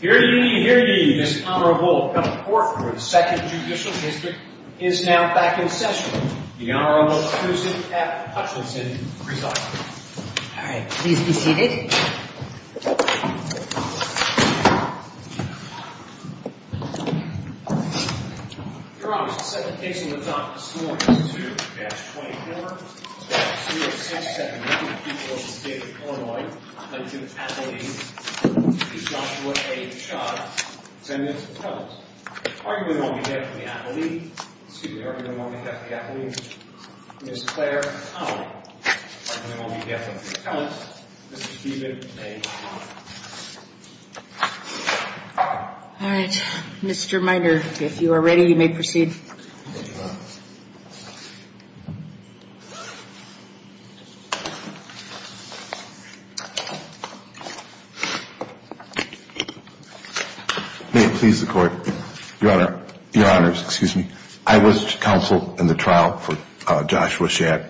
here. You hear me? This honorable court for the second judicial district is now back in session. The Honorable Susan F. Hutchinson presiding. All right, please be seated. You're honest. Second case in the top this morning. All right, Mr. Minder, if you are ready, you may proceed. May it please the court. Your honor, your honors, excuse me. I was counsel in the trial for Joshua Schag.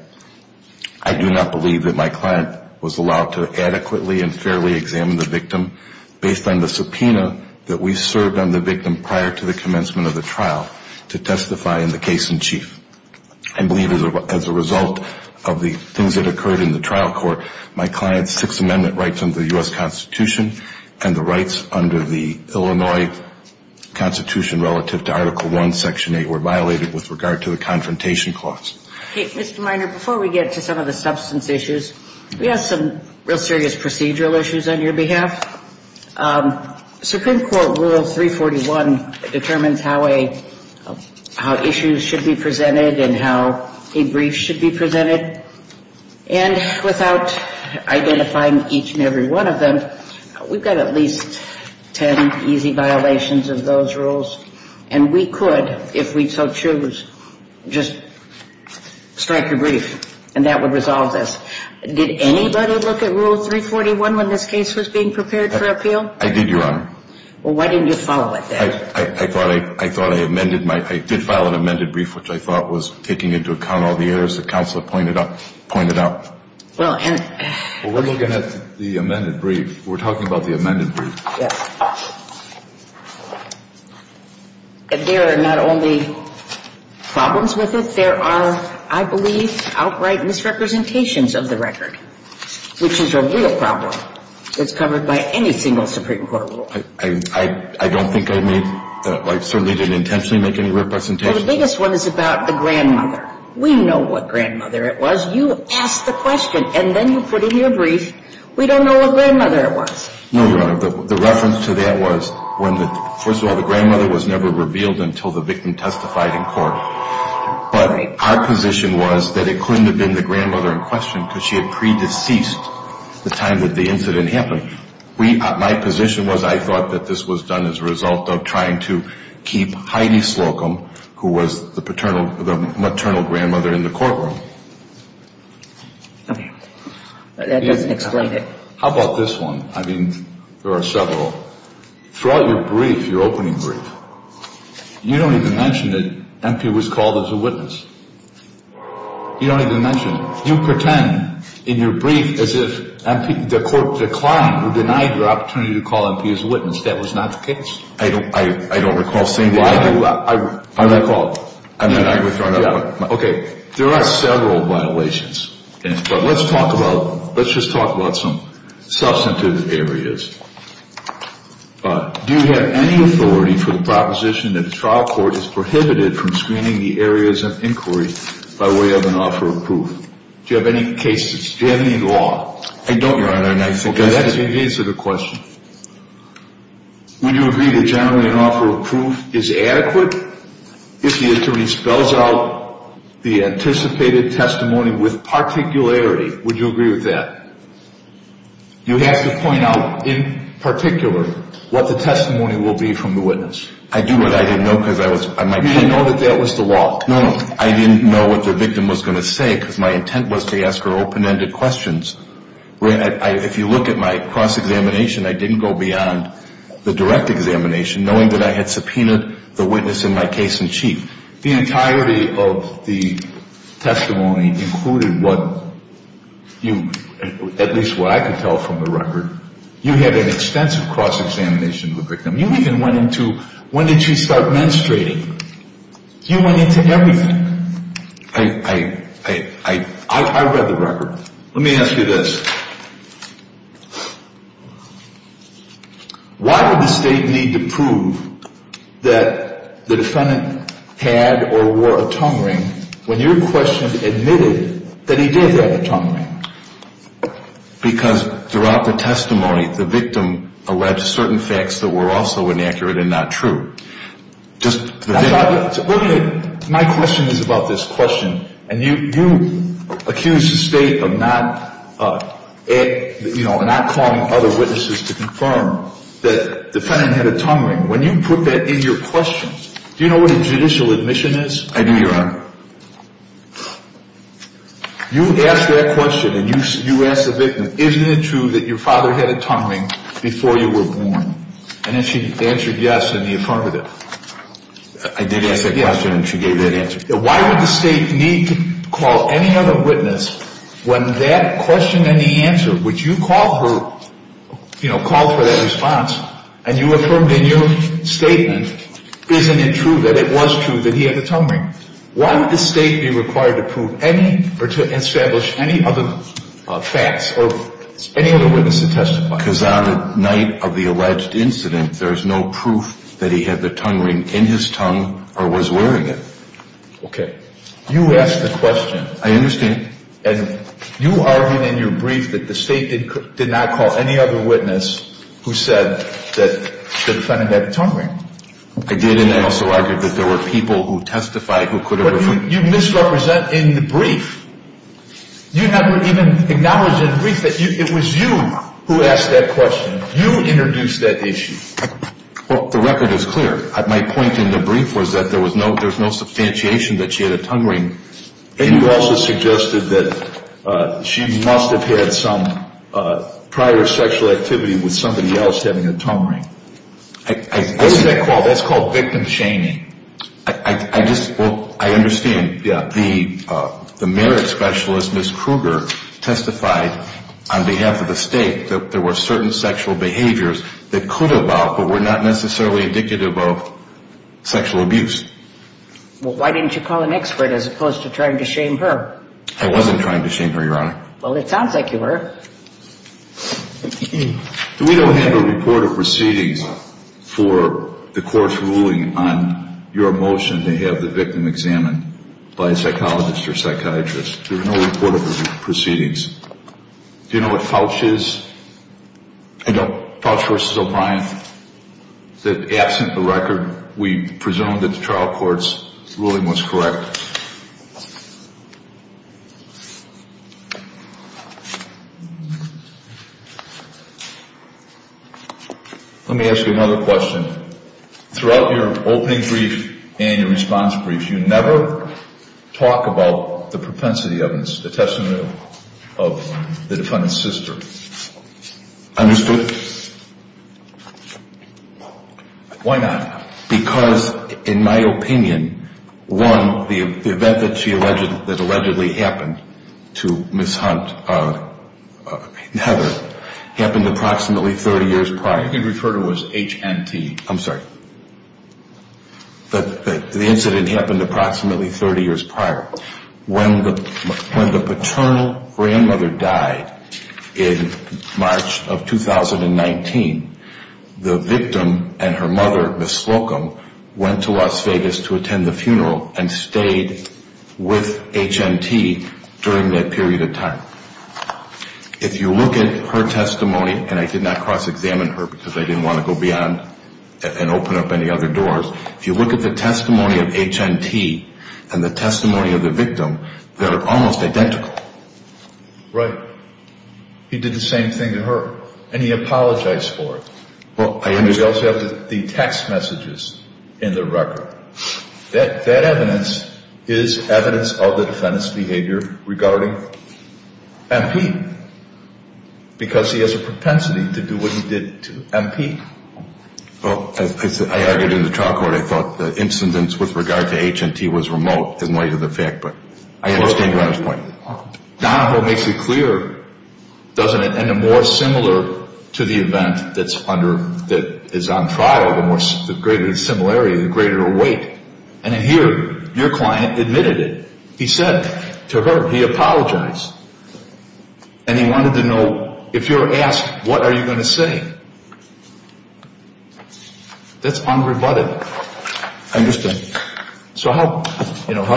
I do not believe that my client was allowed to adequately and fairly examine the victim based on the subpoena that we served on the victim prior to the commencement of the trial to testify in the case in chief. I believe as a result of the things that occurred in the trial court, my client's Sixth Amendment rights under the U.S. Constitution and the rights under the Illinois Constitution relative to Article I, Section 8 were violated with regard to the confrontation clause. Mr. Minder, before we get to some of the substance issues, we have some real serious procedural issues on your behalf. Supreme Court Rule 341 determines how issues should be presented and how a brief should be presented. And without identifying each and every one of them, we've got at least ten easy violations of those rules. And we could, if we so choose, just strike a brief, and that would resolve this. Did anybody look at Rule 341 when this case was being prepared for appeal? I did, your honor. Well, why didn't you follow it then? I thought I amended my, I did file an amended brief, which I thought was taking into account all the errors the counselor pointed out. Well, and Well, we're looking at the amended brief. We're talking about the amended brief. Yes. And there are not only problems with it, there are, I believe, outright misrepresentations of the record, which is a real problem. It's covered by any single Supreme Court rule. I don't think I made, I certainly didn't intentionally make any representations. Well, the biggest one is about the grandmother. We know what grandmother it was. You asked the question, and then you put in your brief, we don't know what grandmother it was. No, your honor. The reference to that was when the, first of all, the grandmother was never revealed until the victim testified in court. But our position was that it couldn't have been the grandmother in question because she had pre-deceased the time that the incident happened. We, my position was I thought that this was done as a result of trying to keep Heidi Slocum, who was the paternal, the maternal grandmother in the courtroom. Okay. That doesn't explain it. How about this one? I mean, there are several. Throughout your brief, your opening brief, you don't even mention that MP was called as a witness. You don't even mention it. You pretend in your brief as if MP, the court declined, who denied your opportunity to call MP as a witness. That was not the case. I don't recall saying that. I do. I recall. And then I withdraw it. Okay. There are several violations. But let's talk about, let's just talk about some substantive areas. Do you have any authority for the proposition that the trial court is prohibited from screening the areas of inquiry by way of an offer of proof? Do you have any cases? Do you have any law? I don't, Your Honor, and I forget it. Okay. That didn't answer the question. Would you agree that generally an offer of proof is adequate if the attorney spells out the anticipated testimony with particularity? Would you agree with that? You have to point out in particular what the testimony will be from the witness. I do, but I didn't know because I was – You didn't know that that was the law. No, no. I didn't know what the victim was going to say because my intent was to ask her open-ended questions. If you look at my cross-examination, I didn't go beyond the direct examination knowing that I had subpoenaed the witness in my case in chief. The entirety of the testimony included what you – at least what I could tell from the record. You had an extensive cross-examination of the victim. You even went into – when did she start menstruating? You went into everything. I read the record. Let me ask you this. Why would the State need to prove that the defendant had or wore a tongue ring when your question admitted that he did have a tongue ring? Because throughout the testimony, the victim alleged certain facts that were also inaccurate and not true. My question is about this question, and you accused the State of not calling other witnesses to confirm that the defendant had a tongue ring. When you put that in your question, do you know what a judicial admission is? I do, Your Honor. You asked that question, and you asked the victim, isn't it true that your father had a tongue ring before you were born? And then she answered yes in the affirmative. I did ask that question, and she gave that answer. Why would the State need to call any other witness when that question and the answer, which you called for, you know, called for that response, and you affirmed in your statement, isn't it true that it was true that he had a tongue ring? Why would the State be required to prove any or to establish any other facts or any other witness to testify? Because on the night of the alleged incident, there is no proof that he had the tongue ring in his tongue or was wearing it. Okay. You asked the question. I understand. And you argued in your brief that the State did not call any other witness who said that the defendant had a tongue ring. I did, and I also argued that there were people who testified who could have. But you misrepresent in the brief. You never even acknowledged in the brief that it was you who asked that question. You introduced that issue. Well, the record is clear. My point in the brief was that there's no substantiation that she had a tongue ring. And you also suggested that she must have had some prior sexual activity with somebody else having a tongue ring. What's that called? That's called victim shaming. Well, I understand. Yeah. The merit specialist, Ms. Kruger, testified on behalf of the State that there were certain sexual behaviors that could evolve but were not necessarily indicative of sexual abuse. Well, why didn't you call an expert as opposed to trying to shame her? I wasn't trying to shame her, Your Honor. Well, it sounds like you were. We don't have a report of proceedings for the court's ruling on your motion to have the victim examined by a psychologist or psychiatrist. There's no report of proceedings. Do you know what pouch is? I don't. Pouch versus O'Brien. Absent the record, we presume that the trial court's ruling was correct. Let me ask you another question. Throughout your opening brief and your response brief, you never talk about the propensity of the testimony of the defendant's sister. Understood? Why not? Because, in my opinion, one, the event that allegedly happened to Ms. Hunt, Heather, happened approximately 30 years prior. You can refer to it as HNT. I'm sorry. The incident happened approximately 30 years prior. When the paternal grandmother died in March of 2019, the victim and her mother, Ms. Slocum, went to Las Vegas to attend the funeral and stayed with HNT during that period of time. If you look at her testimony, and I did not cross-examine her because I didn't want to go beyond and open up any other doors. If you look at the testimony of HNT and the testimony of the victim, they're almost identical. Right. He did the same thing to her. And he apologized for it. And you also have the text messages in the record. That evidence is evidence of the defendant's behavior regarding MP, because he has a propensity to do what he did to MP. Well, as I argued in the trial court, I thought the incidents with regard to HNT was remote in light of the fact. But I understand your point. Donahoe makes it clear, doesn't it, and a more similar to the event that's under, that is on trial, the greater the similarity, the greater the weight. And in here, your client admitted it. He said to her, he apologized. And he wanted to know, if you're asked, what are you going to say? That's unrebutted. I understand. So how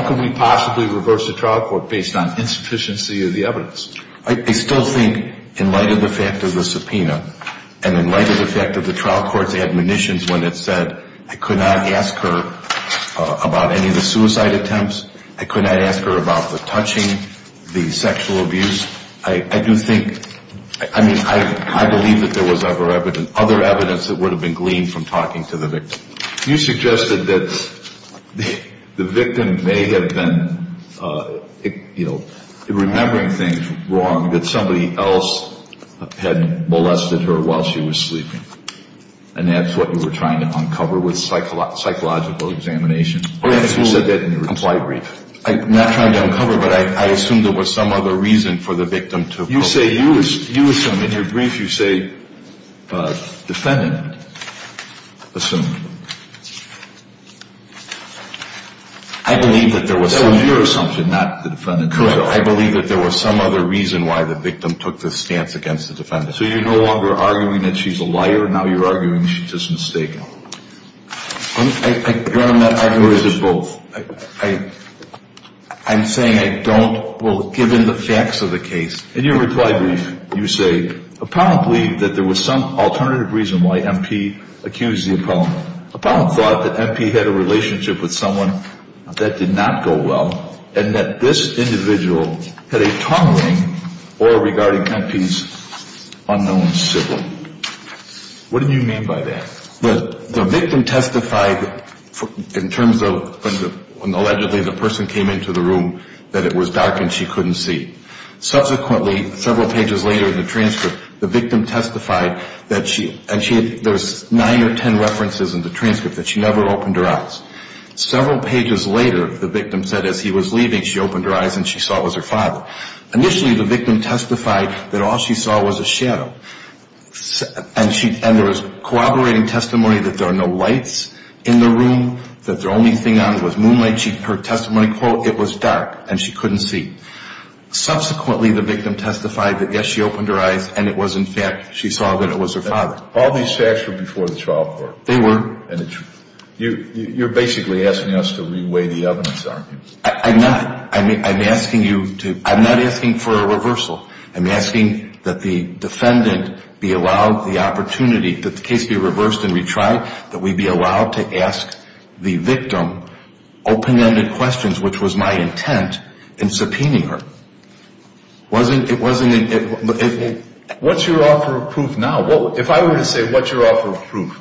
can we possibly reverse the trial court based on insufficiency of the evidence? I still think, in light of the fact of the subpoena, and in light of the fact of the trial court's admonitions when it said, I could not ask her about any of the suicide attempts. I could not ask her about the touching, the sexual abuse. I do think, I mean, I believe that there was other evidence that would have been gleaned from talking to the victim. You suggested that the victim may have been, you know, remembering things wrong, that somebody else had molested her while she was sleeping. And that's what you were trying to uncover with psychological examination? Or if you said that in your reply brief. I'm not trying to uncover, but I assume there was some other reason for the victim to have molested her. You say, you assume, in your brief, you say, defendant assumed. I believe that there was some other reason. That was your assumption, not the defendant's. Correct. I believe that there was some other reason why the victim took this stance against the defendant. So you're no longer arguing that she's a liar. Now you're arguing she's just mistaken. I'm going to make arguments of both. I'm saying I don't, well, given the facts of the case. In your reply brief, you say, Appellant believed that there was some alternative reason why MP accused the appellant. Appellant thought that MP had a relationship with someone that did not go well, and that this individual had a tongue-link or regarded MP's unknown sibling. What do you mean by that? The victim testified in terms of when allegedly the person came into the room, that it was dark and she couldn't see. Subsequently, several pages later in the transcript, the victim testified that she, and there's nine or ten references in the transcript that she never opened her eyes. Several pages later, the victim said as he was leaving, she opened her eyes and she saw it was her father. Initially, the victim testified that all she saw was a shadow, and there was corroborating testimony that there are no lights in the room, that the only thing on was moonlight. Her testimony, quote, it was dark and she couldn't see. Subsequently, the victim testified that, yes, she opened her eyes, and it was, in fact, she saw that it was her father. All these facts were before the trial court. They were. You're basically asking us to re-weigh the evidence, aren't you? I'm not. I'm asking you to – I'm not asking for a reversal. I'm asking that the defendant be allowed the opportunity, that the case be reversed and retried, that we be allowed to ask the victim open-ended questions, which was my intent in subpoenaing her. It wasn't – it wasn't – what's your offer of proof now? Well, if I were to say what's your offer of proof,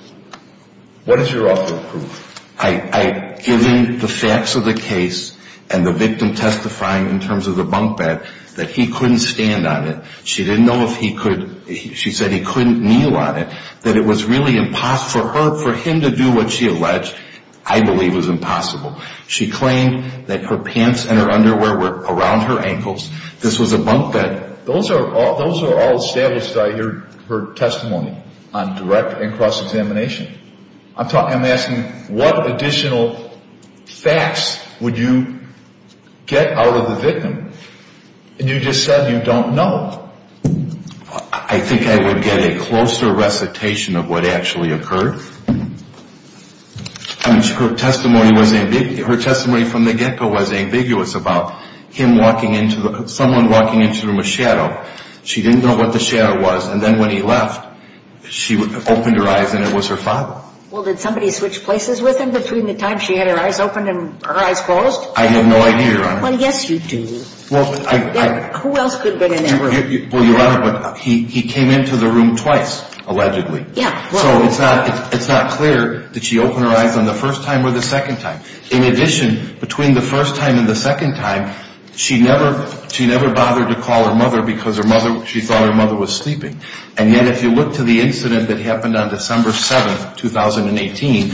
what is your offer of proof? I – given the facts of the case and the victim testifying in terms of the bunk bed, that he couldn't stand on it. She didn't know if he could – she said he couldn't kneel on it, that it was really impossible for her – for him to do what she alleged, I believe, was impossible. She claimed that her pants and her underwear were around her ankles. This was a bunk bed. Those are all – those are all established, I hear, her testimony on direct and cross-examination. I'm talking – I'm asking what additional facts would you get out of the victim? And you just said you don't know. I think I would get a closer recitation of what actually occurred. I mean, her testimony was – her testimony from the get-go was ambiguous about him walking into the – someone walking into the room with shadow. She didn't know what the shadow was. And then when he left, she opened her eyes and it was her father. Well, did somebody switch places with him between the time she had her eyes opened and her eyes closed? I have no idea, Your Honor. Well, yes, you do. Well, I – I – Who else could have been in that room? Well, Your Honor, he came into the room twice, allegedly. Yeah. So it's not – it's not clear that she opened her eyes on the first time or the second time. In addition, between the first time and the second time, she never – she never bothered to call her mother because her mother – she thought her mother was sleeping. And yet if you look to the incident that happened on December 7, 2018,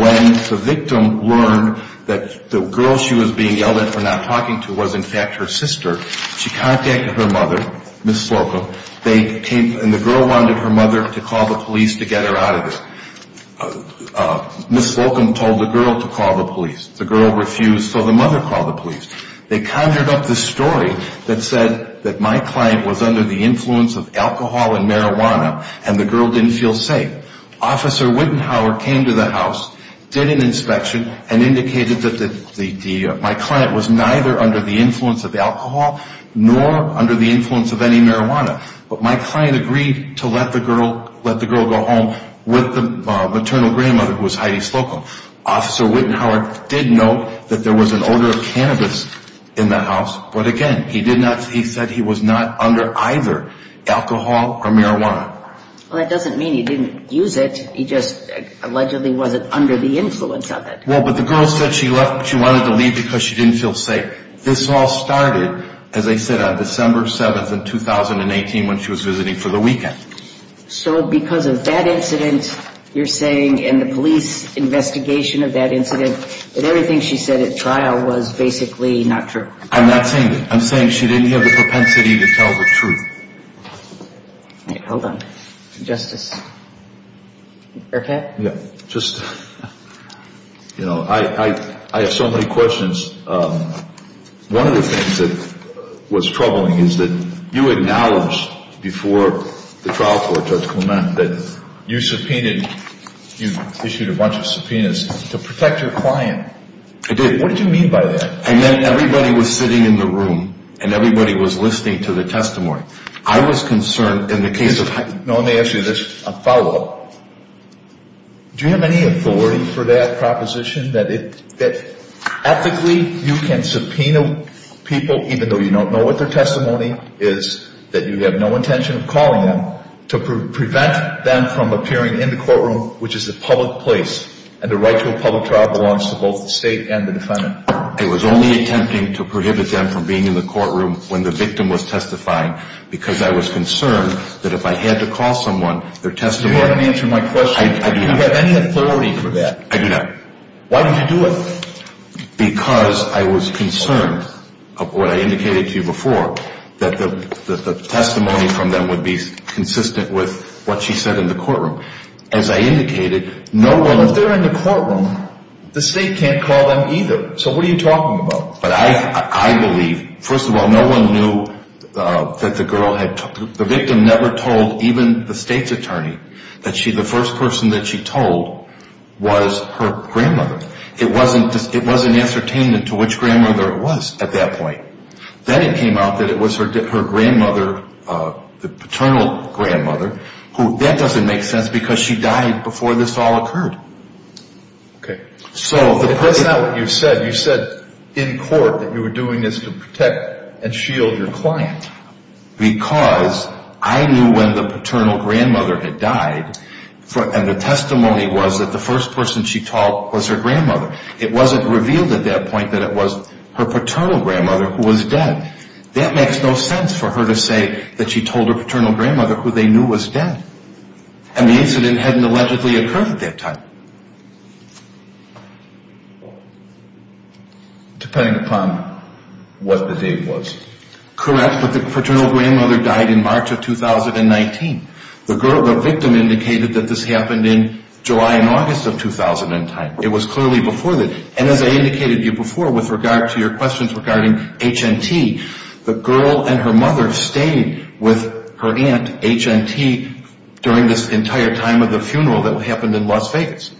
when the victim learned that the girl she was being yelled at for not talking to was, in fact, her sister, she contacted her mother, Ms. Slocum, and the girl wanted her mother to call the police to get her out of there. Ms. Slocum told the girl to call the police. The girl refused, so the mother called the police. They conjured up this story that said that my client was under the influence of alcohol and marijuana and the girl didn't feel safe. Officer Wittenhauer came to the house, did an inspection, and indicated that the – my client was neither under the influence of alcohol nor under the influence of any marijuana. But my client agreed to let the girl – let the girl go home with the maternal grandmother, who was Heidi Slocum. Officer Wittenhauer did note that there was an odor of cannabis in that house, but again, he did not – he said he was not under either alcohol or marijuana. Well, that doesn't mean he didn't use it. He just allegedly wasn't under the influence of it. Well, but the girl said she left – she wanted to leave because she didn't feel safe. This all started, as I said, on December 7th in 2018 when she was visiting for the weekend. So because of that incident, you're saying, and the police investigation of that incident, that everything she said at trial was basically not true? I'm not saying that. I'm saying she didn't have the propensity to tell the truth. All right, hold on. Justice Burkett? Yeah, just, you know, I have so many questions. One of the things that was troubling is that you acknowledged before the trial court, Judge Clement, that you subpoenaed – you issued a bunch of subpoenas to protect your client. I did. What did you mean by that? I meant everybody was sitting in the room and everybody was listening to the testimony. I was concerned in the case of – No, let me ask you this on follow-up. Do you have any authority for that proposition that ethically you can subpoena people, even though you don't know what their testimony is, that you have no intention of calling them, to prevent them from appearing in the courtroom, which is a public place, and the right to a public trial belongs to both the state and the defendant? I was only attempting to prohibit them from being in the courtroom when the victim was testifying because I was concerned that if I had to call someone, their testimony – Do you want me to answer my question? I do not. Do you have any authority for that? I do not. Why would you do it? Because I was concerned of what I indicated to you before, that the testimony from them would be consistent with what she said in the courtroom. As I indicated, no one – Well, if they're in the courtroom, the state can't call them either. So what are you talking about? But I believe – first of all, no one knew that the girl had – the victim never told even the state's attorney that the first person that she told was her grandmother. It wasn't ascertained to which grandmother it was at that point. Then it came out that it was her grandmother, the paternal grandmother, who – that doesn't make sense because she died before this all occurred. Okay. So the – That's not what you said. You said in court that you were doing this to protect and shield your client. Because I knew when the paternal grandmother had died, and the testimony was that the first person she told was her grandmother. It wasn't revealed at that point that it was her paternal grandmother who was dead. That makes no sense for her to say that she told her paternal grandmother who they knew was dead. And the incident hadn't allegedly occurred at that time. Depending upon what the date was. Correct, but the paternal grandmother died in March of 2019. The victim indicated that this happened in July and August of 2010. It was clearly before that. And as I indicated to you before with regard to your questions regarding HNT, the girl and her mother stayed with her aunt, HNT, during this entire time of the funeral that happened in Las Vegas.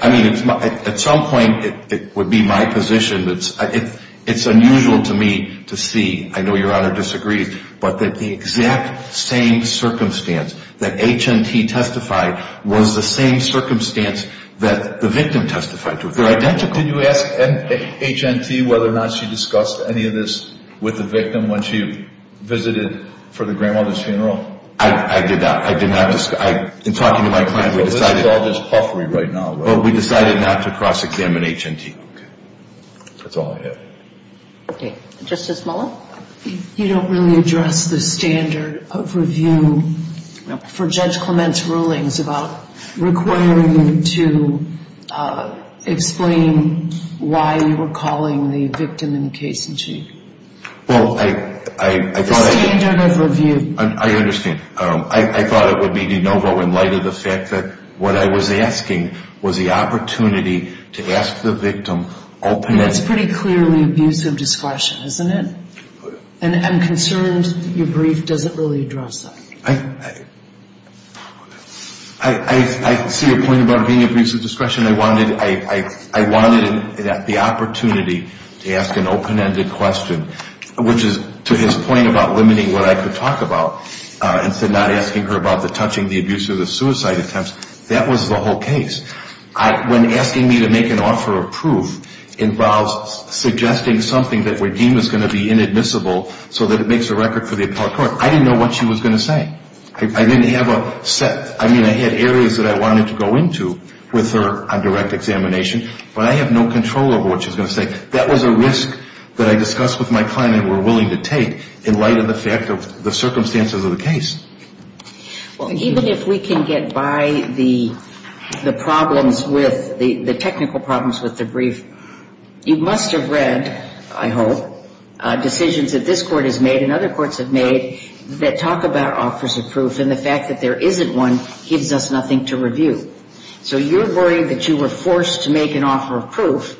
I mean, at some point it would be my position. It's unusual to me to see – I know Your Honor disagrees – but that the exact same circumstance that HNT testified was the same circumstance that the victim testified to. They're identical. Did you ask HNT whether or not she discussed any of this with the victim when she visited for the grandmother's funeral? I did not. I did not. In talking to my client, we decided – Well, this is all just huffery right now. Well, we decided not to cross-examine HNT. Okay. That's all I have. Okay. Justice Mullen? You don't really address the standard of review for Judge Clement's rulings about requiring you to explain why you were calling the victim in case in chief. Well, I thought I – The standard of review. I understand. I thought it would be de novo in light of the fact that what I was asking was the opportunity to ask the victim openly – It's pretty clearly abuse of discretion, isn't it? And I'm concerned your brief doesn't really address that. I see your point about being abuse of discretion. I wanted the opportunity to ask an open-ended question, which is to his point about limiting what I could talk about instead of not asking her about the touching, the abuse, or the suicide attempts. That was the whole case. When asking me to make an offer of proof involves suggesting something that we deem is going to be inadmissible so that it makes a record for the appellate court, I didn't know what she was going to say. I didn't have a set – I mean, I had areas that I wanted to go into with her on direct examination, but I have no control over what she's going to say. That was a risk that I discussed with my client and were willing to take in light of the fact of the circumstances of the case. Even if we can get by the problems with – the technical problems with the brief, you must have read, I hope, decisions that this Court has made and other courts have made that talk about offers of proof, and the fact that there isn't one gives us nothing to review. So you're worried that you were forced to make an offer of proof,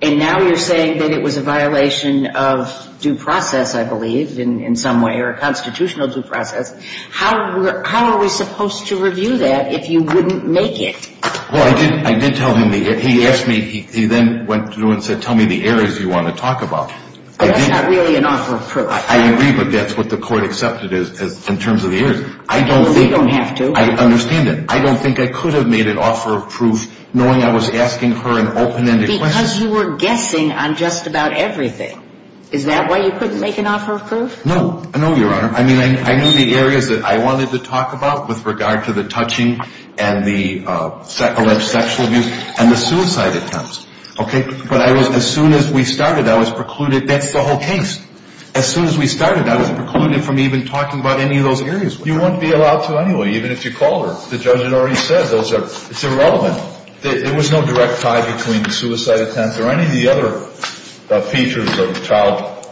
and now you're saying that it was a violation of due process, I believe, in some way, or a constitutional due process. How are we supposed to review that if you wouldn't make it? Well, I did tell him the – he asked me – he then went through and said, tell me the areas you want to talk about. But that's not really an offer of proof. I agree, but that's what the Court accepted in terms of the years. I don't think – Well, you don't have to. I understand that. I don't think I could have made an offer of proof knowing I was asking her an open-ended question. Because you were guessing on just about everything. Is that why you couldn't make an offer of proof? No. No, Your Honor. I mean, I knew the areas that I wanted to talk about with regard to the touching and the alleged sexual abuse and the suicide attempts, okay? But I was – as soon as we started, I was precluded – that's the whole case. As soon as we started, I was precluded from even talking about any of those areas. You wouldn't be allowed to anyway, even if you called her. The judge had already said those are – it's irrelevant. There was no direct tie between the suicide attempts or any of the other features of a child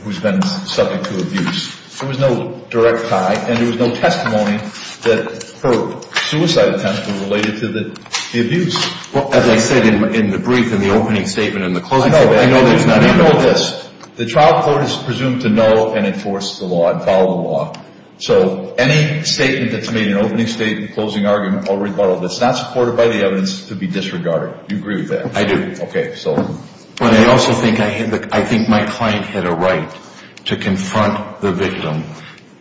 who's been subject to abuse. There was no direct tie, and there was no testimony that her suicide attempts were related to the abuse. Well, as I said in the brief, in the opening statement, in the closing statement – I know. I know that it's not – You know this. The trial court is presumed to know and enforce the law and follow the law. So any statement that's made in an opening statement, closing argument, already followed, that's not supported by the evidence, could be disregarded. You agree with that? I do. Okay, so – But I also think I had – I think my client had a right to confront the victim.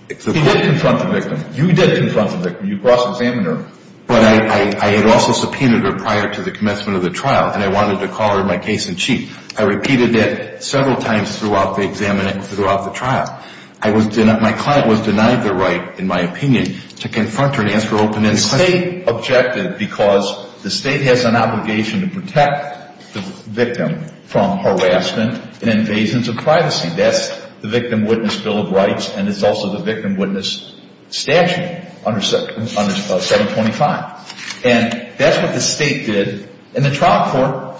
He did confront the victim. You did confront the victim. You cross-examined her. But I had also subpoenaed her prior to the commencement of the trial, and I wanted to call her in my case in chief. I repeated that several times throughout the trial. My client was denied the right, in my opinion, to confront her and ask her open-ended questions. The state objected because the state has an obligation to protect the victim from harassment and invasions of privacy. That's the Victim Witness Bill of Rights, and it's also the Victim Witness Statute under 725. And that's what the state did. And the trial court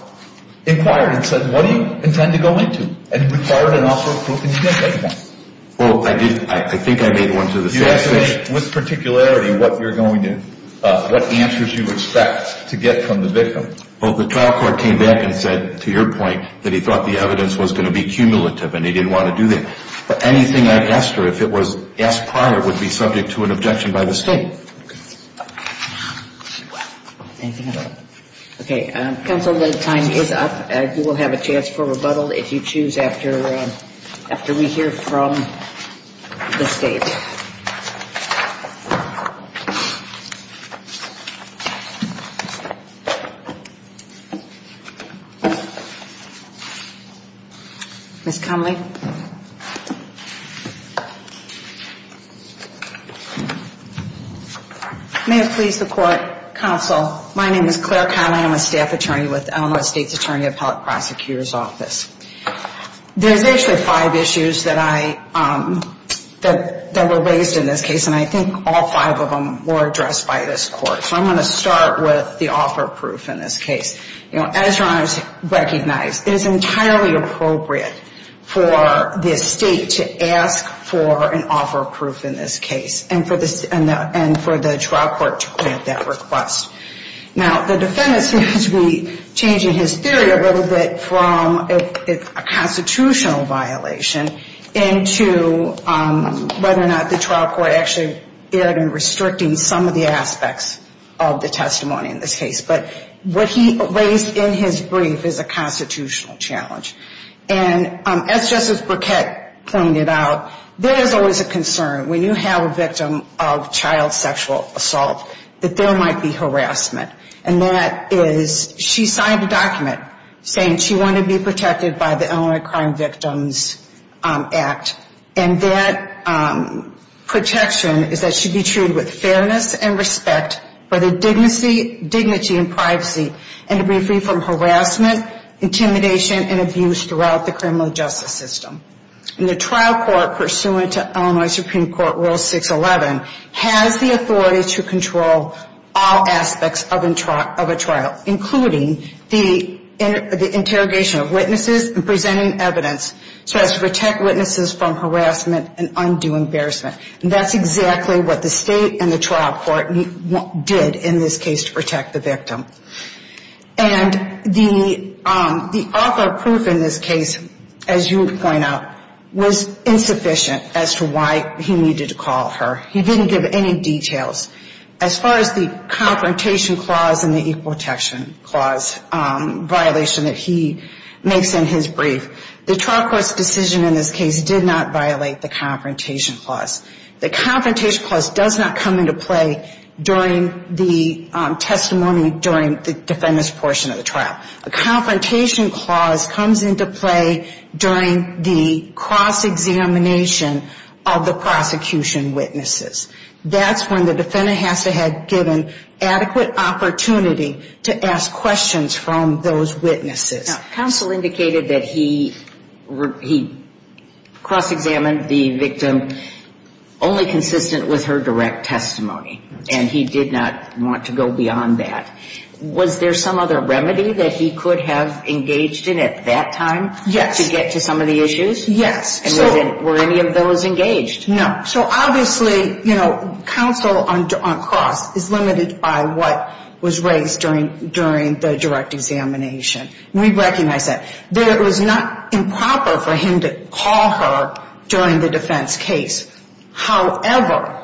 inquired and said, what do you intend to go into? And required an offer of proof, and you didn't make one. Well, I did. I think I made one to the state. Do you estimate with particularity what you're going to – what answers you expect to get from the victim? Well, the trial court came back and said, to your point, that he thought the evidence was going to be cumulative and he didn't want to do that. But anything I've asked her, if it was asked prior, would be subject to an objection by the state. Okay. Counsel, the time is up. You will have a chance for rebuttal if you choose after we hear from the state. Ms. Conley? May it please the Court, Counsel, my name is Claire Conley. I'm a staff attorney with the Illinois State's Attorney Appellate Prosecutor's Office. There's actually five issues that I – that we're going to be discussing today. And I think all five of them were addressed by this Court. So I'm going to start with the offer of proof in this case. As Your Honors recognize, it is entirely appropriate for the state to ask for an offer of proof in this case and for the trial court to grant that request. Now, the defendant seems to be changing his theory a little bit from a constitutional violation into whether or not the trial court actually erred in restricting some of the aspects of the testimony in this case. But what he raised in his brief is a constitutional challenge. And as Justice Burkett pointed out, there is always a concern when you have a victim of child sexual assault that there might be harassment. And that is, she signed a document saying she wanted to be protected by the Illinois Crime Victims Act. And that protection is that she be treated with fairness and respect for the dignity and privacy and to be free from harassment, intimidation, and abuse throughout the criminal justice system. And the trial court, pursuant to Illinois Supreme Court Rule 611, has the authority to control all aspects of a trial, including the interrogation of witnesses and presenting evidence so as to protect witnesses from harassment and undue embarrassment. And that's exactly what the state and the trial court did in this case to protect the victim. And the author of proof in this case, as you would point out, was insufficient as to why he needed to call her. He didn't give any details. As far as the Confrontation Clause and the Equal Protection Clause violation that he makes in his brief, the trial court's decision in this case did not violate the Confrontation Clause. The Confrontation Clause does not come into play during the testimony during the defendant's portion of the trial. A Confrontation Clause comes into play during the cross-examination of the prosecution witnesses. That's when the defendant has to have given adequate opportunity to ask questions from those witnesses. Now, counsel indicated that he cross-examined the victim only consistent with her direct testimony. And he did not want to go beyond that. Was there some other remedy that he could have engaged in at that time to get to some of the issues? Yes. And were any of those engaged? No. So obviously, you know, counsel on cross is limited by what was raised during the direct examination. And we recognize that. It was not improper for him to call her during the defense case. However,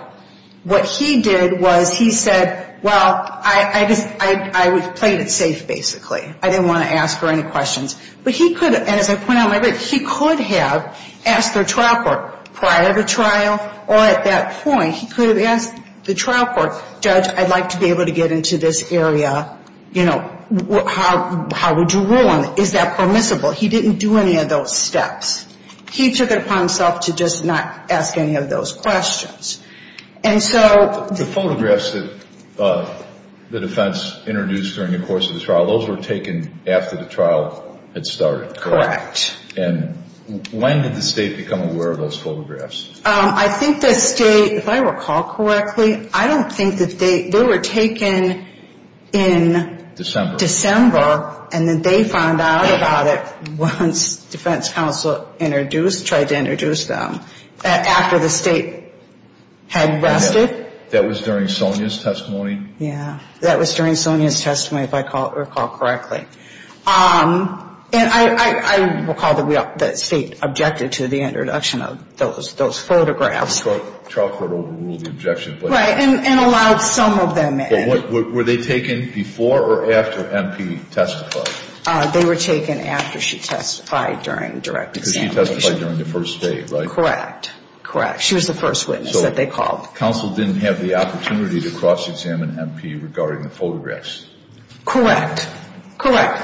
what he did was he said, well, I played it safe, basically. I didn't want to ask her any questions. But he could have, and as I point out, he could have asked her trial court prior to trial or at that point he could have asked the trial court, judge, I'd like to be able to get into this area, you know, how would you rule on it? Is that permissible? He didn't do any of those steps. He took it upon himself to just not ask any of those questions. And so the photographs that the defense introduced during the course of the trial, those were taken after the trial had started, correct? And when did the state become aware of those photographs? I think the state, if I recall correctly, I don't think that they were taken in December, and then they found out about it once defense counsel tried to introduce them after the state had rested. That was during Sonia's testimony? Yeah, that was during Sonia's testimony, if I recall correctly. And I recall that the state objected to the introduction of those photographs. The trial court overruled the objection. Right, and allowed some of them in. But were they taken before or after MP testified? They were taken after she testified during direct examination. Because she testified during the first day, right? Correct, correct. She was the first witness that they called. So counsel didn't have the opportunity to cross-examine MP regarding the photographs. Correct, correct.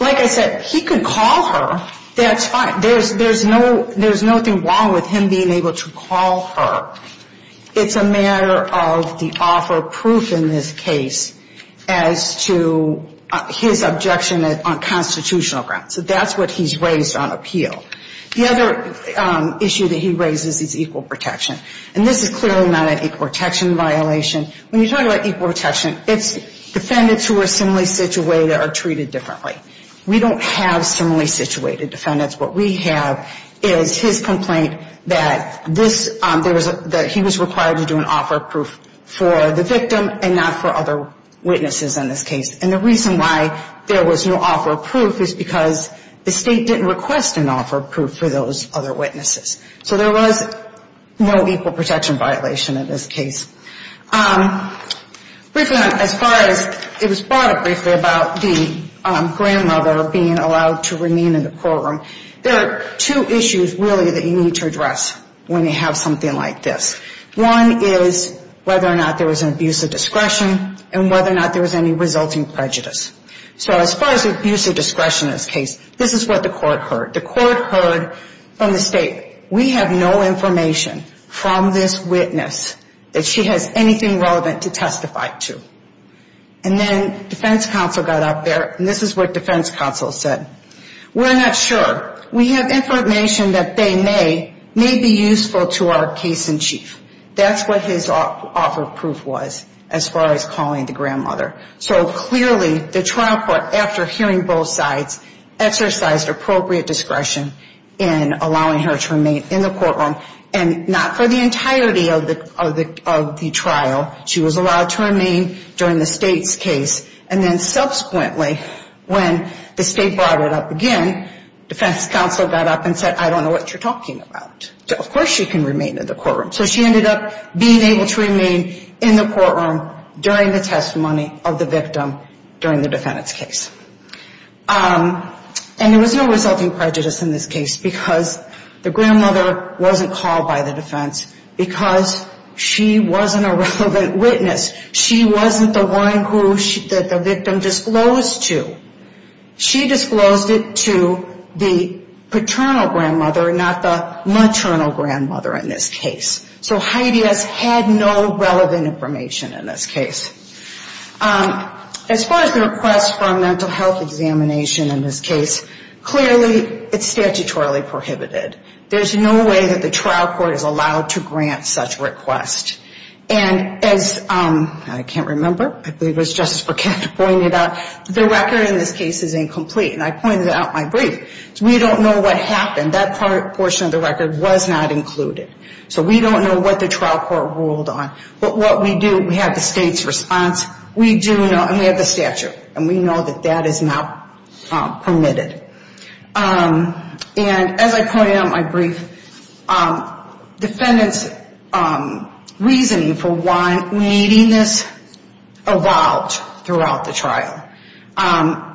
Like I said, he could call her. That's fine. There's nothing wrong with him being able to call her. It's a matter of the offer of proof in this case as to his objection on constitutional grounds. So that's what he's raised on appeal. The other issue that he raises is equal protection. And this is clearly not an equal protection violation. When you talk about equal protection, it's defendants who are similarly situated are treated differently. We don't have similarly situated defendants. What we have is his complaint that he was required to do an offer of proof for the victim and not for other witnesses in this case. And the reason why there was no offer of proof is because the state didn't request an offer of proof for those other witnesses. So there was no equal protection violation in this case. Briefly, as far as, it was brought up briefly about the grandmother being allowed to remain in the courtroom. There are two issues, really, that you need to address when you have something like this. One is whether or not there was an abuse of discretion and whether or not there was any resulting prejudice. So as far as abuse of discretion in this case, this is what the court heard. The court heard from the state, we have no information from this witness that she has anything relevant to testify to. And then defense counsel got up there, and this is what defense counsel said. We're not sure. We have information that they may be useful to our case in chief. That's what his offer of proof was as far as calling the grandmother. So clearly the trial court, after hearing both sides, exercised appropriate discretion in allowing her to remain in the courtroom. And not for the entirety of the trial. She was allowed to remain during the state's case. And then subsequently, when the state brought it up again, defense counsel got up and said, I don't know what you're talking about. Of course she can remain in the courtroom. So she ended up being able to remain in the courtroom during the testimony of the victim during the defendant's case. And there was no resulting prejudice in this case because the grandmother wasn't called by the defense because she wasn't a relevant witness. She wasn't the one who the victim disclosed to. She disclosed it to the paternal grandmother, not the maternal grandmother in this case. So Heidi has had no relevant information in this case. As far as the request for a mental health examination in this case, clearly it's statutorily prohibited. There's no way that the trial court is allowed to grant such request. And as I can't remember, I believe it was Justice Burkett who pointed out, the record in this case is incomplete. And I pointed out my brief. We don't know what happened. That portion of the record was not included. So we don't know what the trial court ruled on. But what we do, we have the state's response. And we have the statute. And we know that that is not permitted. And as I pointed out in my brief, defendant's reasoning for why we need this evolved throughout the trial.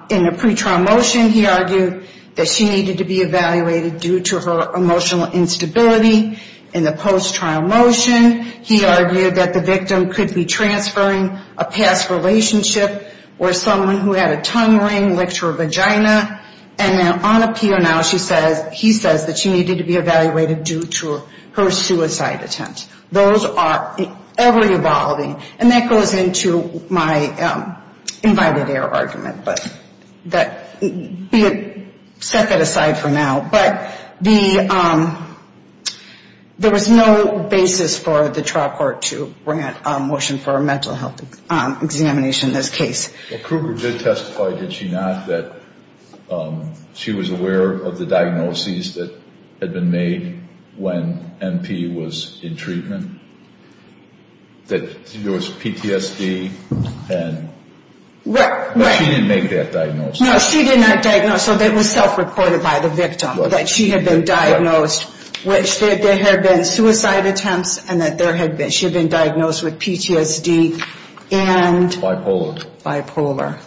In the pretrial motion, he argued that she needed to be evaluated due to her emotional instability. In the post-trial motion, he argued that the victim could be transferring a past relationship or someone who had a tongue ring, licked her vagina. And on appeal now, he says that she needed to be evaluated due to her suicide attempt. Those are ever evolving. And that goes into my invited error argument. But be it set that aside for now. But there was no basis for the trial court to bring a motion for a mental health examination in this case. Well, Kruger did testify, did she not, that she was aware of the diagnoses that had been made when MP was in treatment. That there was PTSD. But she didn't make that diagnosis. No, she did not diagnose. So it was self-reported by the victim that she had been diagnosed. Which there had been suicide attempts and that she had been diagnosed with PTSD. And bipolar.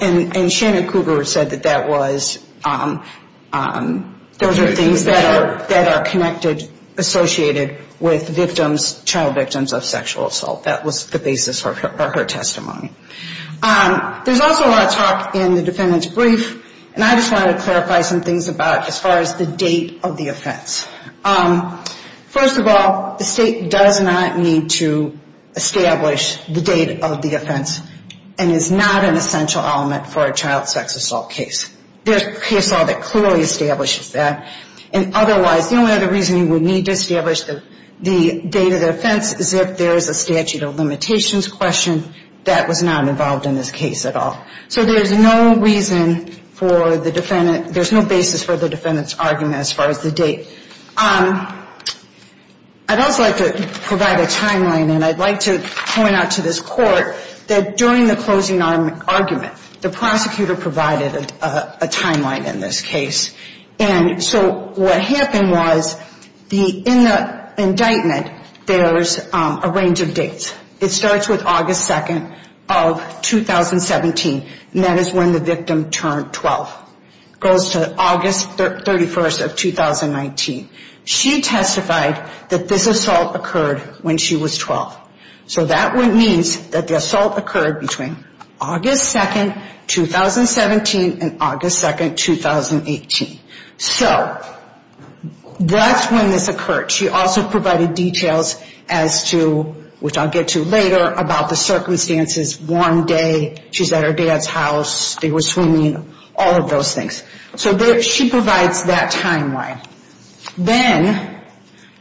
And Shannon Kruger said that that was, those are things that are connected, associated with victims, child victims of sexual assault. That was the basis for her testimony. There's also a lot of talk in the defendant's brief, and I just wanted to clarify some things about as far as the date of the offense. First of all, the state does not need to establish the date of the offense. And is not an essential element for a child sex assault case. There's a case law that clearly establishes that. And otherwise, the only other reason you would need to establish the date of the offense is if there's a statute of limitations question that was not involved in this case at all. So there's no reason for the defendant, there's no basis for the defendant's argument as far as the date. I'd also like to provide a timeline, and I'd like to point out to this court that during the closing argument, the prosecutor provided a timeline in this case. And so what happened was, in the indictment, there's a range of dates. It starts with August 2nd of 2017, and that is when the victim turned 12. Goes to August 31st of 2019. She testified that this assault occurred when she was 12. So that means that the assault occurred between August 2nd, 2017, and August 2nd, 2018. So that's when this occurred. She also provided details as to, which I'll get to later, about the circumstances. One day, she's at her dad's house, they were swimming, all of those things. So she provides that timeline. Then,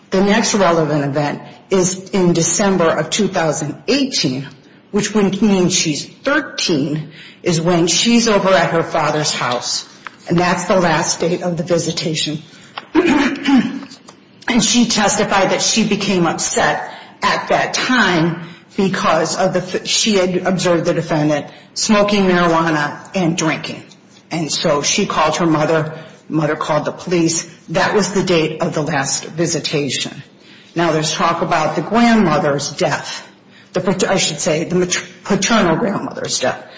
the next relevant event is in December of 2018, which means she's 13, is when she's over at her father's house. And that's the last date of the visitation. And she testified that she became upset at that time because of the, she had observed the defendant smoking marijuana and drinking. And so she called her mother, mother called the police. That was the date of the last visitation. Now, there's talk about the grandmother's death, I should say, the paternal grandmother's death.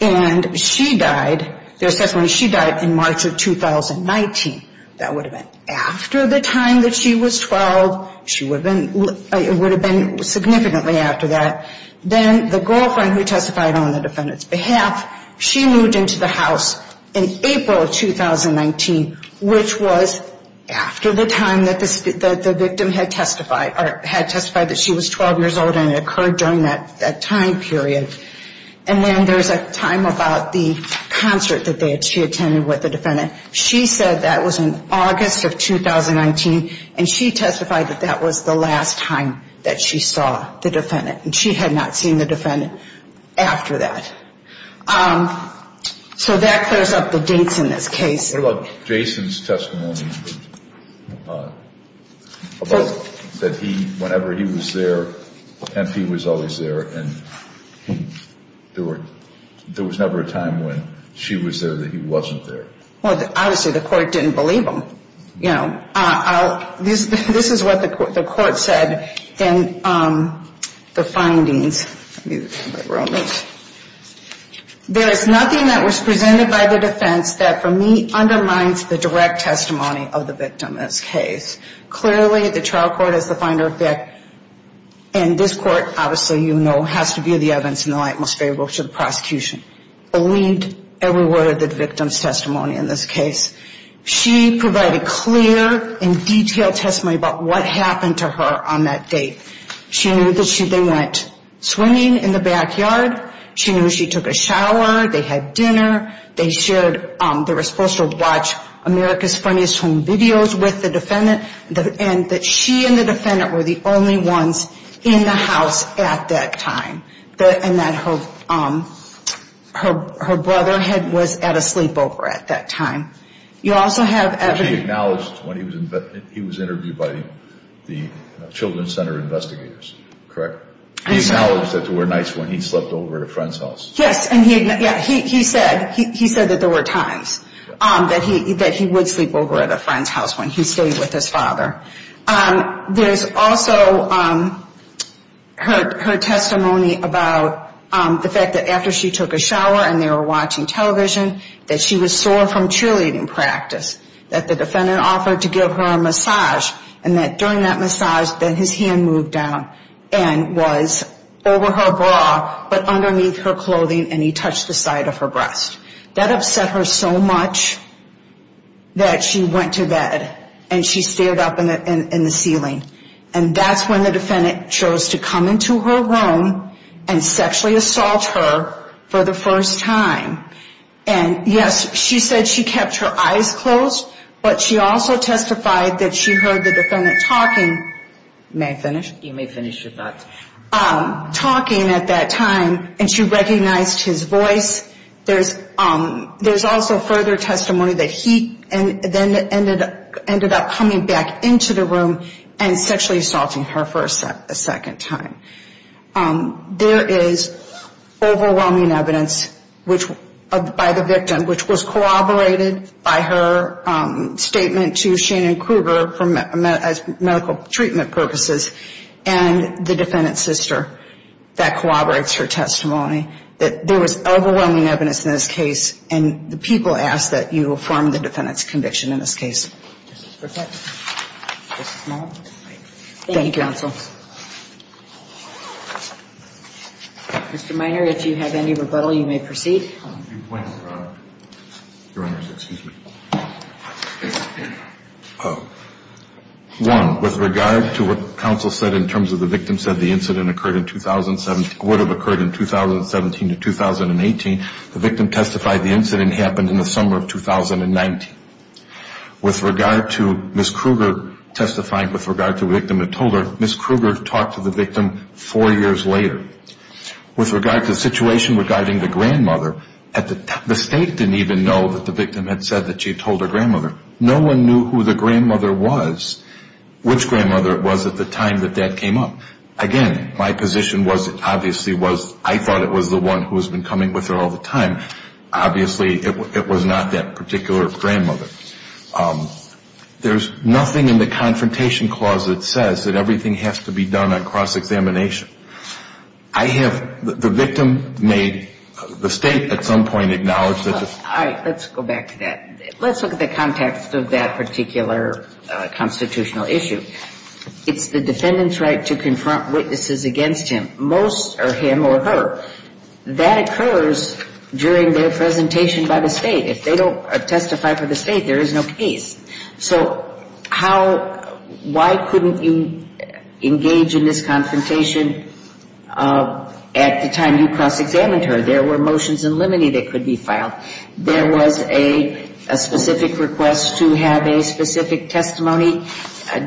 And she died, there's testimony, she died in March of 2019. That would have been after the time that she was 12, it would have been significantly after that. Then the girlfriend who testified on the defendant's behalf, she moved into the house in April of 2019, which was after the time that the victim had testified, or had testified that she was 12 years old and it occurred during that time period. And then there's a time about the concert that she attended with the defendant. She said that was in August of 2019. And she testified that that was the last time that she saw the defendant. And she had not seen the defendant after that. So that clears up the dinks in this case. What about Jason's testimony about that he, whenever he was there, MP was always there, and there was never a time when she was there that he wasn't there? Well, obviously the court didn't believe him. This is what the court said in the findings. There is nothing that was presented by the defense that for me undermines the direct testimony of the victim in this case. Clearly the trial court is the finder of that. And this court obviously, you know, has to be the evidence in the light most favorable to the prosecution. Believed every word of the victim's testimony in this case. She provided clear and detailed testimony about what happened to her on that date. She knew that they went swimming in the backyard. She knew she took a shower. They had dinner. They were supposed to watch America's Funniest Home Videos with the defendant. And that she and the defendant were the only ones in the house at that time. And that her brother was at a sleepover at that time. You also have evidence... He acknowledged when he was interviewed by the Children's Center investigators, correct? He acknowledged that there were nights when he slept over at a friend's house. Yes, and he said that there were times that he would sleep over at a friend's house when he stayed with his father. There's also her testimony about the fact that after she took a shower and they were watching television, that she was sore from cheerleading practice. That the defendant offered to give her a massage and that during that massage, that his hand moved down and was over her bra, but underneath her clothing and he touched the side of her breast. That upset her so much that she went to bed. And she stared up in the ceiling. And that's when the defendant chose to come into her room and sexually assault her for the first time. And yes, she said she kept her eyes closed, but she also testified that she heard the defendant talking. May I finish? You may finish your thoughts. Talking at that time, and she recognized his voice. There's also further testimony that he then ended up coming back into the room and sexually assaulting her for a second time. There is overwhelming evidence by the victim, which was corroborated by her statement to Shannon Krueger as medical treatment purposes and the defendant's sister that corroborates her testimony, that there was overwhelming evidence in this case and the people ask that you affirm the defendant's conviction in this case. Thank you, counsel. Mr. Minor, if you have any rebuttal, you may proceed. I have a few points, Your Honor. One, with regard to what counsel said in terms of the victim said the incident occurred in 2017, would have occurred in 2017 to 2018, the victim testified the incident happened in the summer of 2019. With regard to Ms. Krueger testifying with regard to the victim that told her, Ms. Krueger talked to the victim four years later. With regard to the situation regarding the grandmother, the State didn't even know that the victim had said that she had told her grandmother. No one knew who the grandmother was, which grandmother it was at the time that that came up. Again, my position obviously was I thought it was the one who has been coming with her all the time. Obviously, it was not that particular grandmother. There's nothing in the Confrontation Clause that says that everything has to be done on cross-examination. I have the victim made the State at some point acknowledge that the ---- All right. Let's go back to that. Let's look at the context of that particular constitutional issue. It's the defendant's right to confront witnesses against him. Most are him or her. That occurs during their presentation by the State. If they don't testify for the State, there is no case. So how ---- why couldn't you engage in this confrontation at the time you cross-examined her? There were motions in limine that could be filed. There was a specific request to have a specific testimony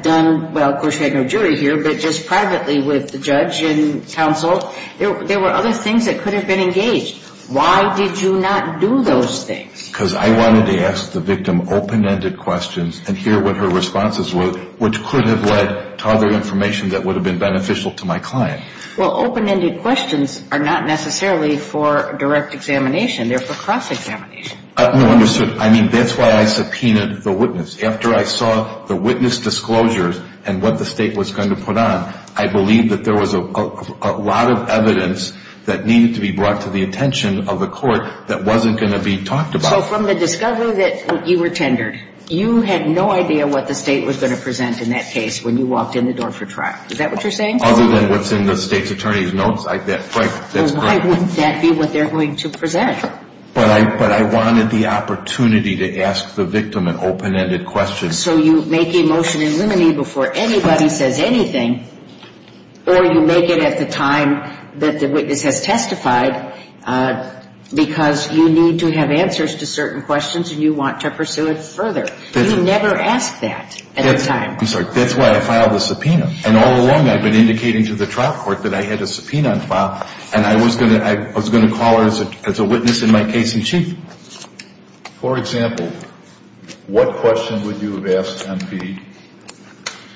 done, well, of course you had no jury here, but just privately with the judge and counsel. There were other things that could have been engaged. Why did you not do those things? Because I wanted to ask the victim open-ended questions and hear what her responses were, which could have led to other information that would have been beneficial to my client. Well, open-ended questions are not necessarily for direct examination. They're for cross-examination. No, understood. I mean, that's why I subpoenaed the witness. After I saw the witness disclosures and what the State was going to put on, I believed that there was a lot of evidence that needed to be brought to the attention of the court that wasn't going to be talked about. So from the discovery that you were tendered, you had no idea what the State was going to present in that case when you walked in the door for trial. Is that what you're saying? Other than what's in the State's attorney's notes. Well, why wouldn't that be what they're going to present? But I wanted the opportunity to ask the victim an open-ended question. So you make a motion in limine before anybody says anything, or you make it at the time that the witness has testified because you need to have answers to certain questions and you want to pursue it further. You never ask that at the time. I'm sorry. That's why I filed a subpoena, and all along I've been indicating to the trial court that I had a subpoena in file, and I was going to call her as a witness in my case in chief. For example, what question would you have asked MP,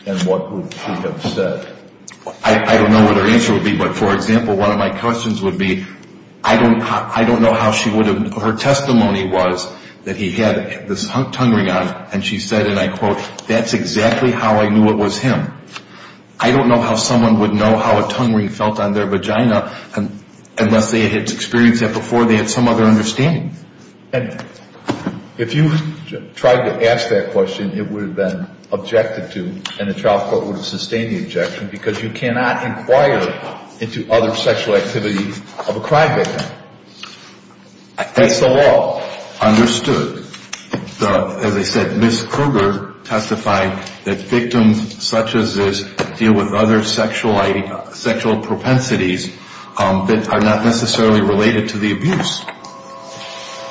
and what would she have said? I don't know what her answer would be, but for example, one of my questions would be, I don't know how she would have, her testimony was that he had this tongue ring on, and she said, and I quote, that's exactly how I knew it was him. I don't know how someone would know how a tongue ring felt on their vagina unless they had experienced it before they had some other understanding. And if you tried to ask that question, it would have been objected to, and the trial court would have sustained the objection because you cannot inquire into other sexual activities of a crime victim. That's the law. Understood. As I said, Ms. Kruger testified that victims such as this deal with other sexual propensities that are not necessarily related to the abuse.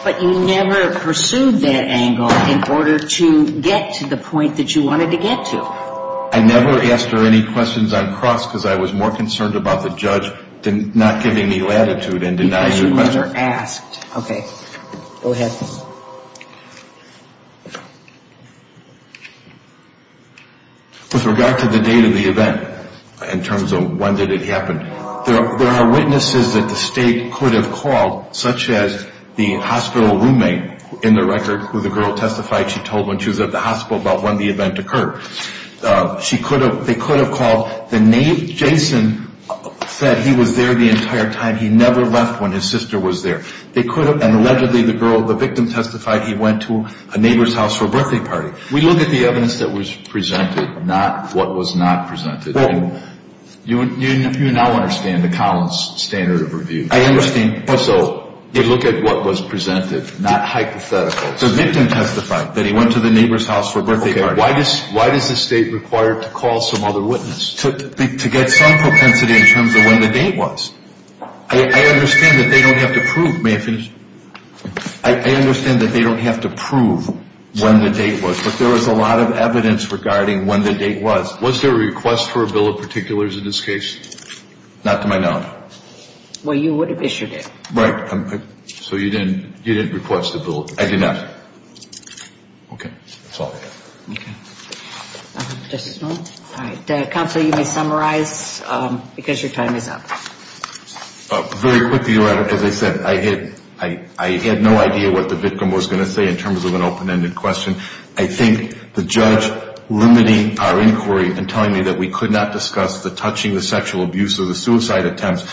But you never pursued that angle in order to get to the point that you wanted to get to. I never asked her any questions on cross because I was more concerned about the judge not giving me latitude and denying me the question. Because you never asked. Okay. Go ahead. With regard to the date of the event in terms of when did it happen, there are witnesses that the state could have called, such as the hospital roommate in the record who the girl testified she told when she was at the hospital about when the event occurred. They could have called the name. Jason said he was there the entire time. He never left when his sister was there. And allegedly the girl, the victim testified he went to a neighbor's house for a birthday party. We look at the evidence that was presented, not what was not presented. You now understand the Collins standard of review. I understand. So they look at what was presented, not hypotheticals. The victim testified that he went to the neighbor's house for a birthday party. Why does the state require to call some other witness? To get some propensity in terms of when the date was. I understand that they don't have to prove. May I finish? I understand that they don't have to prove when the date was. But there was a lot of evidence regarding when the date was. Was there a request for a bill of particulars in this case? Not to my knowledge. Well, you would have issued it. Right. So you didn't request a bill. I did not. Okay. That's all I have. Justice Miller? All right. Counsel, you may summarize because your time is up. Very quickly, as I said, I had no idea what the victim was going to say in terms of an open-ended question. I think the judge limiting our inquiry and telling me that we could not discuss the touching, the sexual abuse, or the suicide attempts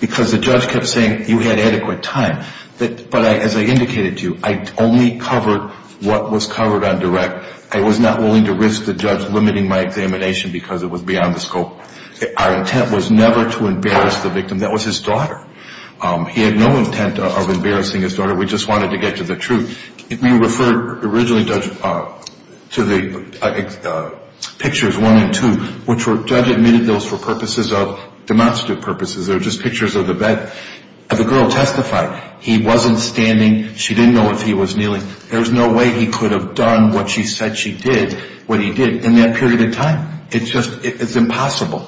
because the judge kept saying you had adequate time. But as I indicated to you, I only covered what was covered on direct. I was not willing to risk the judge limiting my examination because it was beyond the scope. Our intent was never to embarrass the victim. That was his daughter. He had no intent of embarrassing his daughter. We just wanted to get to the truth. We referred originally to the pictures one and two, which the judge admitted those for purposes of demonstrative purposes. They were just pictures of the bed. The girl testified. He wasn't standing. She didn't know if he was kneeling. There was no way he could have done what she said she did, what he did, in that period of time. It's just impossible.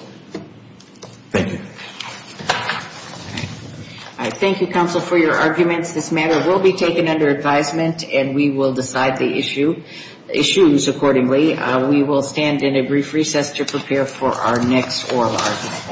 Thank you. All right. Thank you, Counsel, for your arguments. This matter will be taken under advisement, and we will decide the issues accordingly. We will stand in a brief recess to prepare for our next oral argument.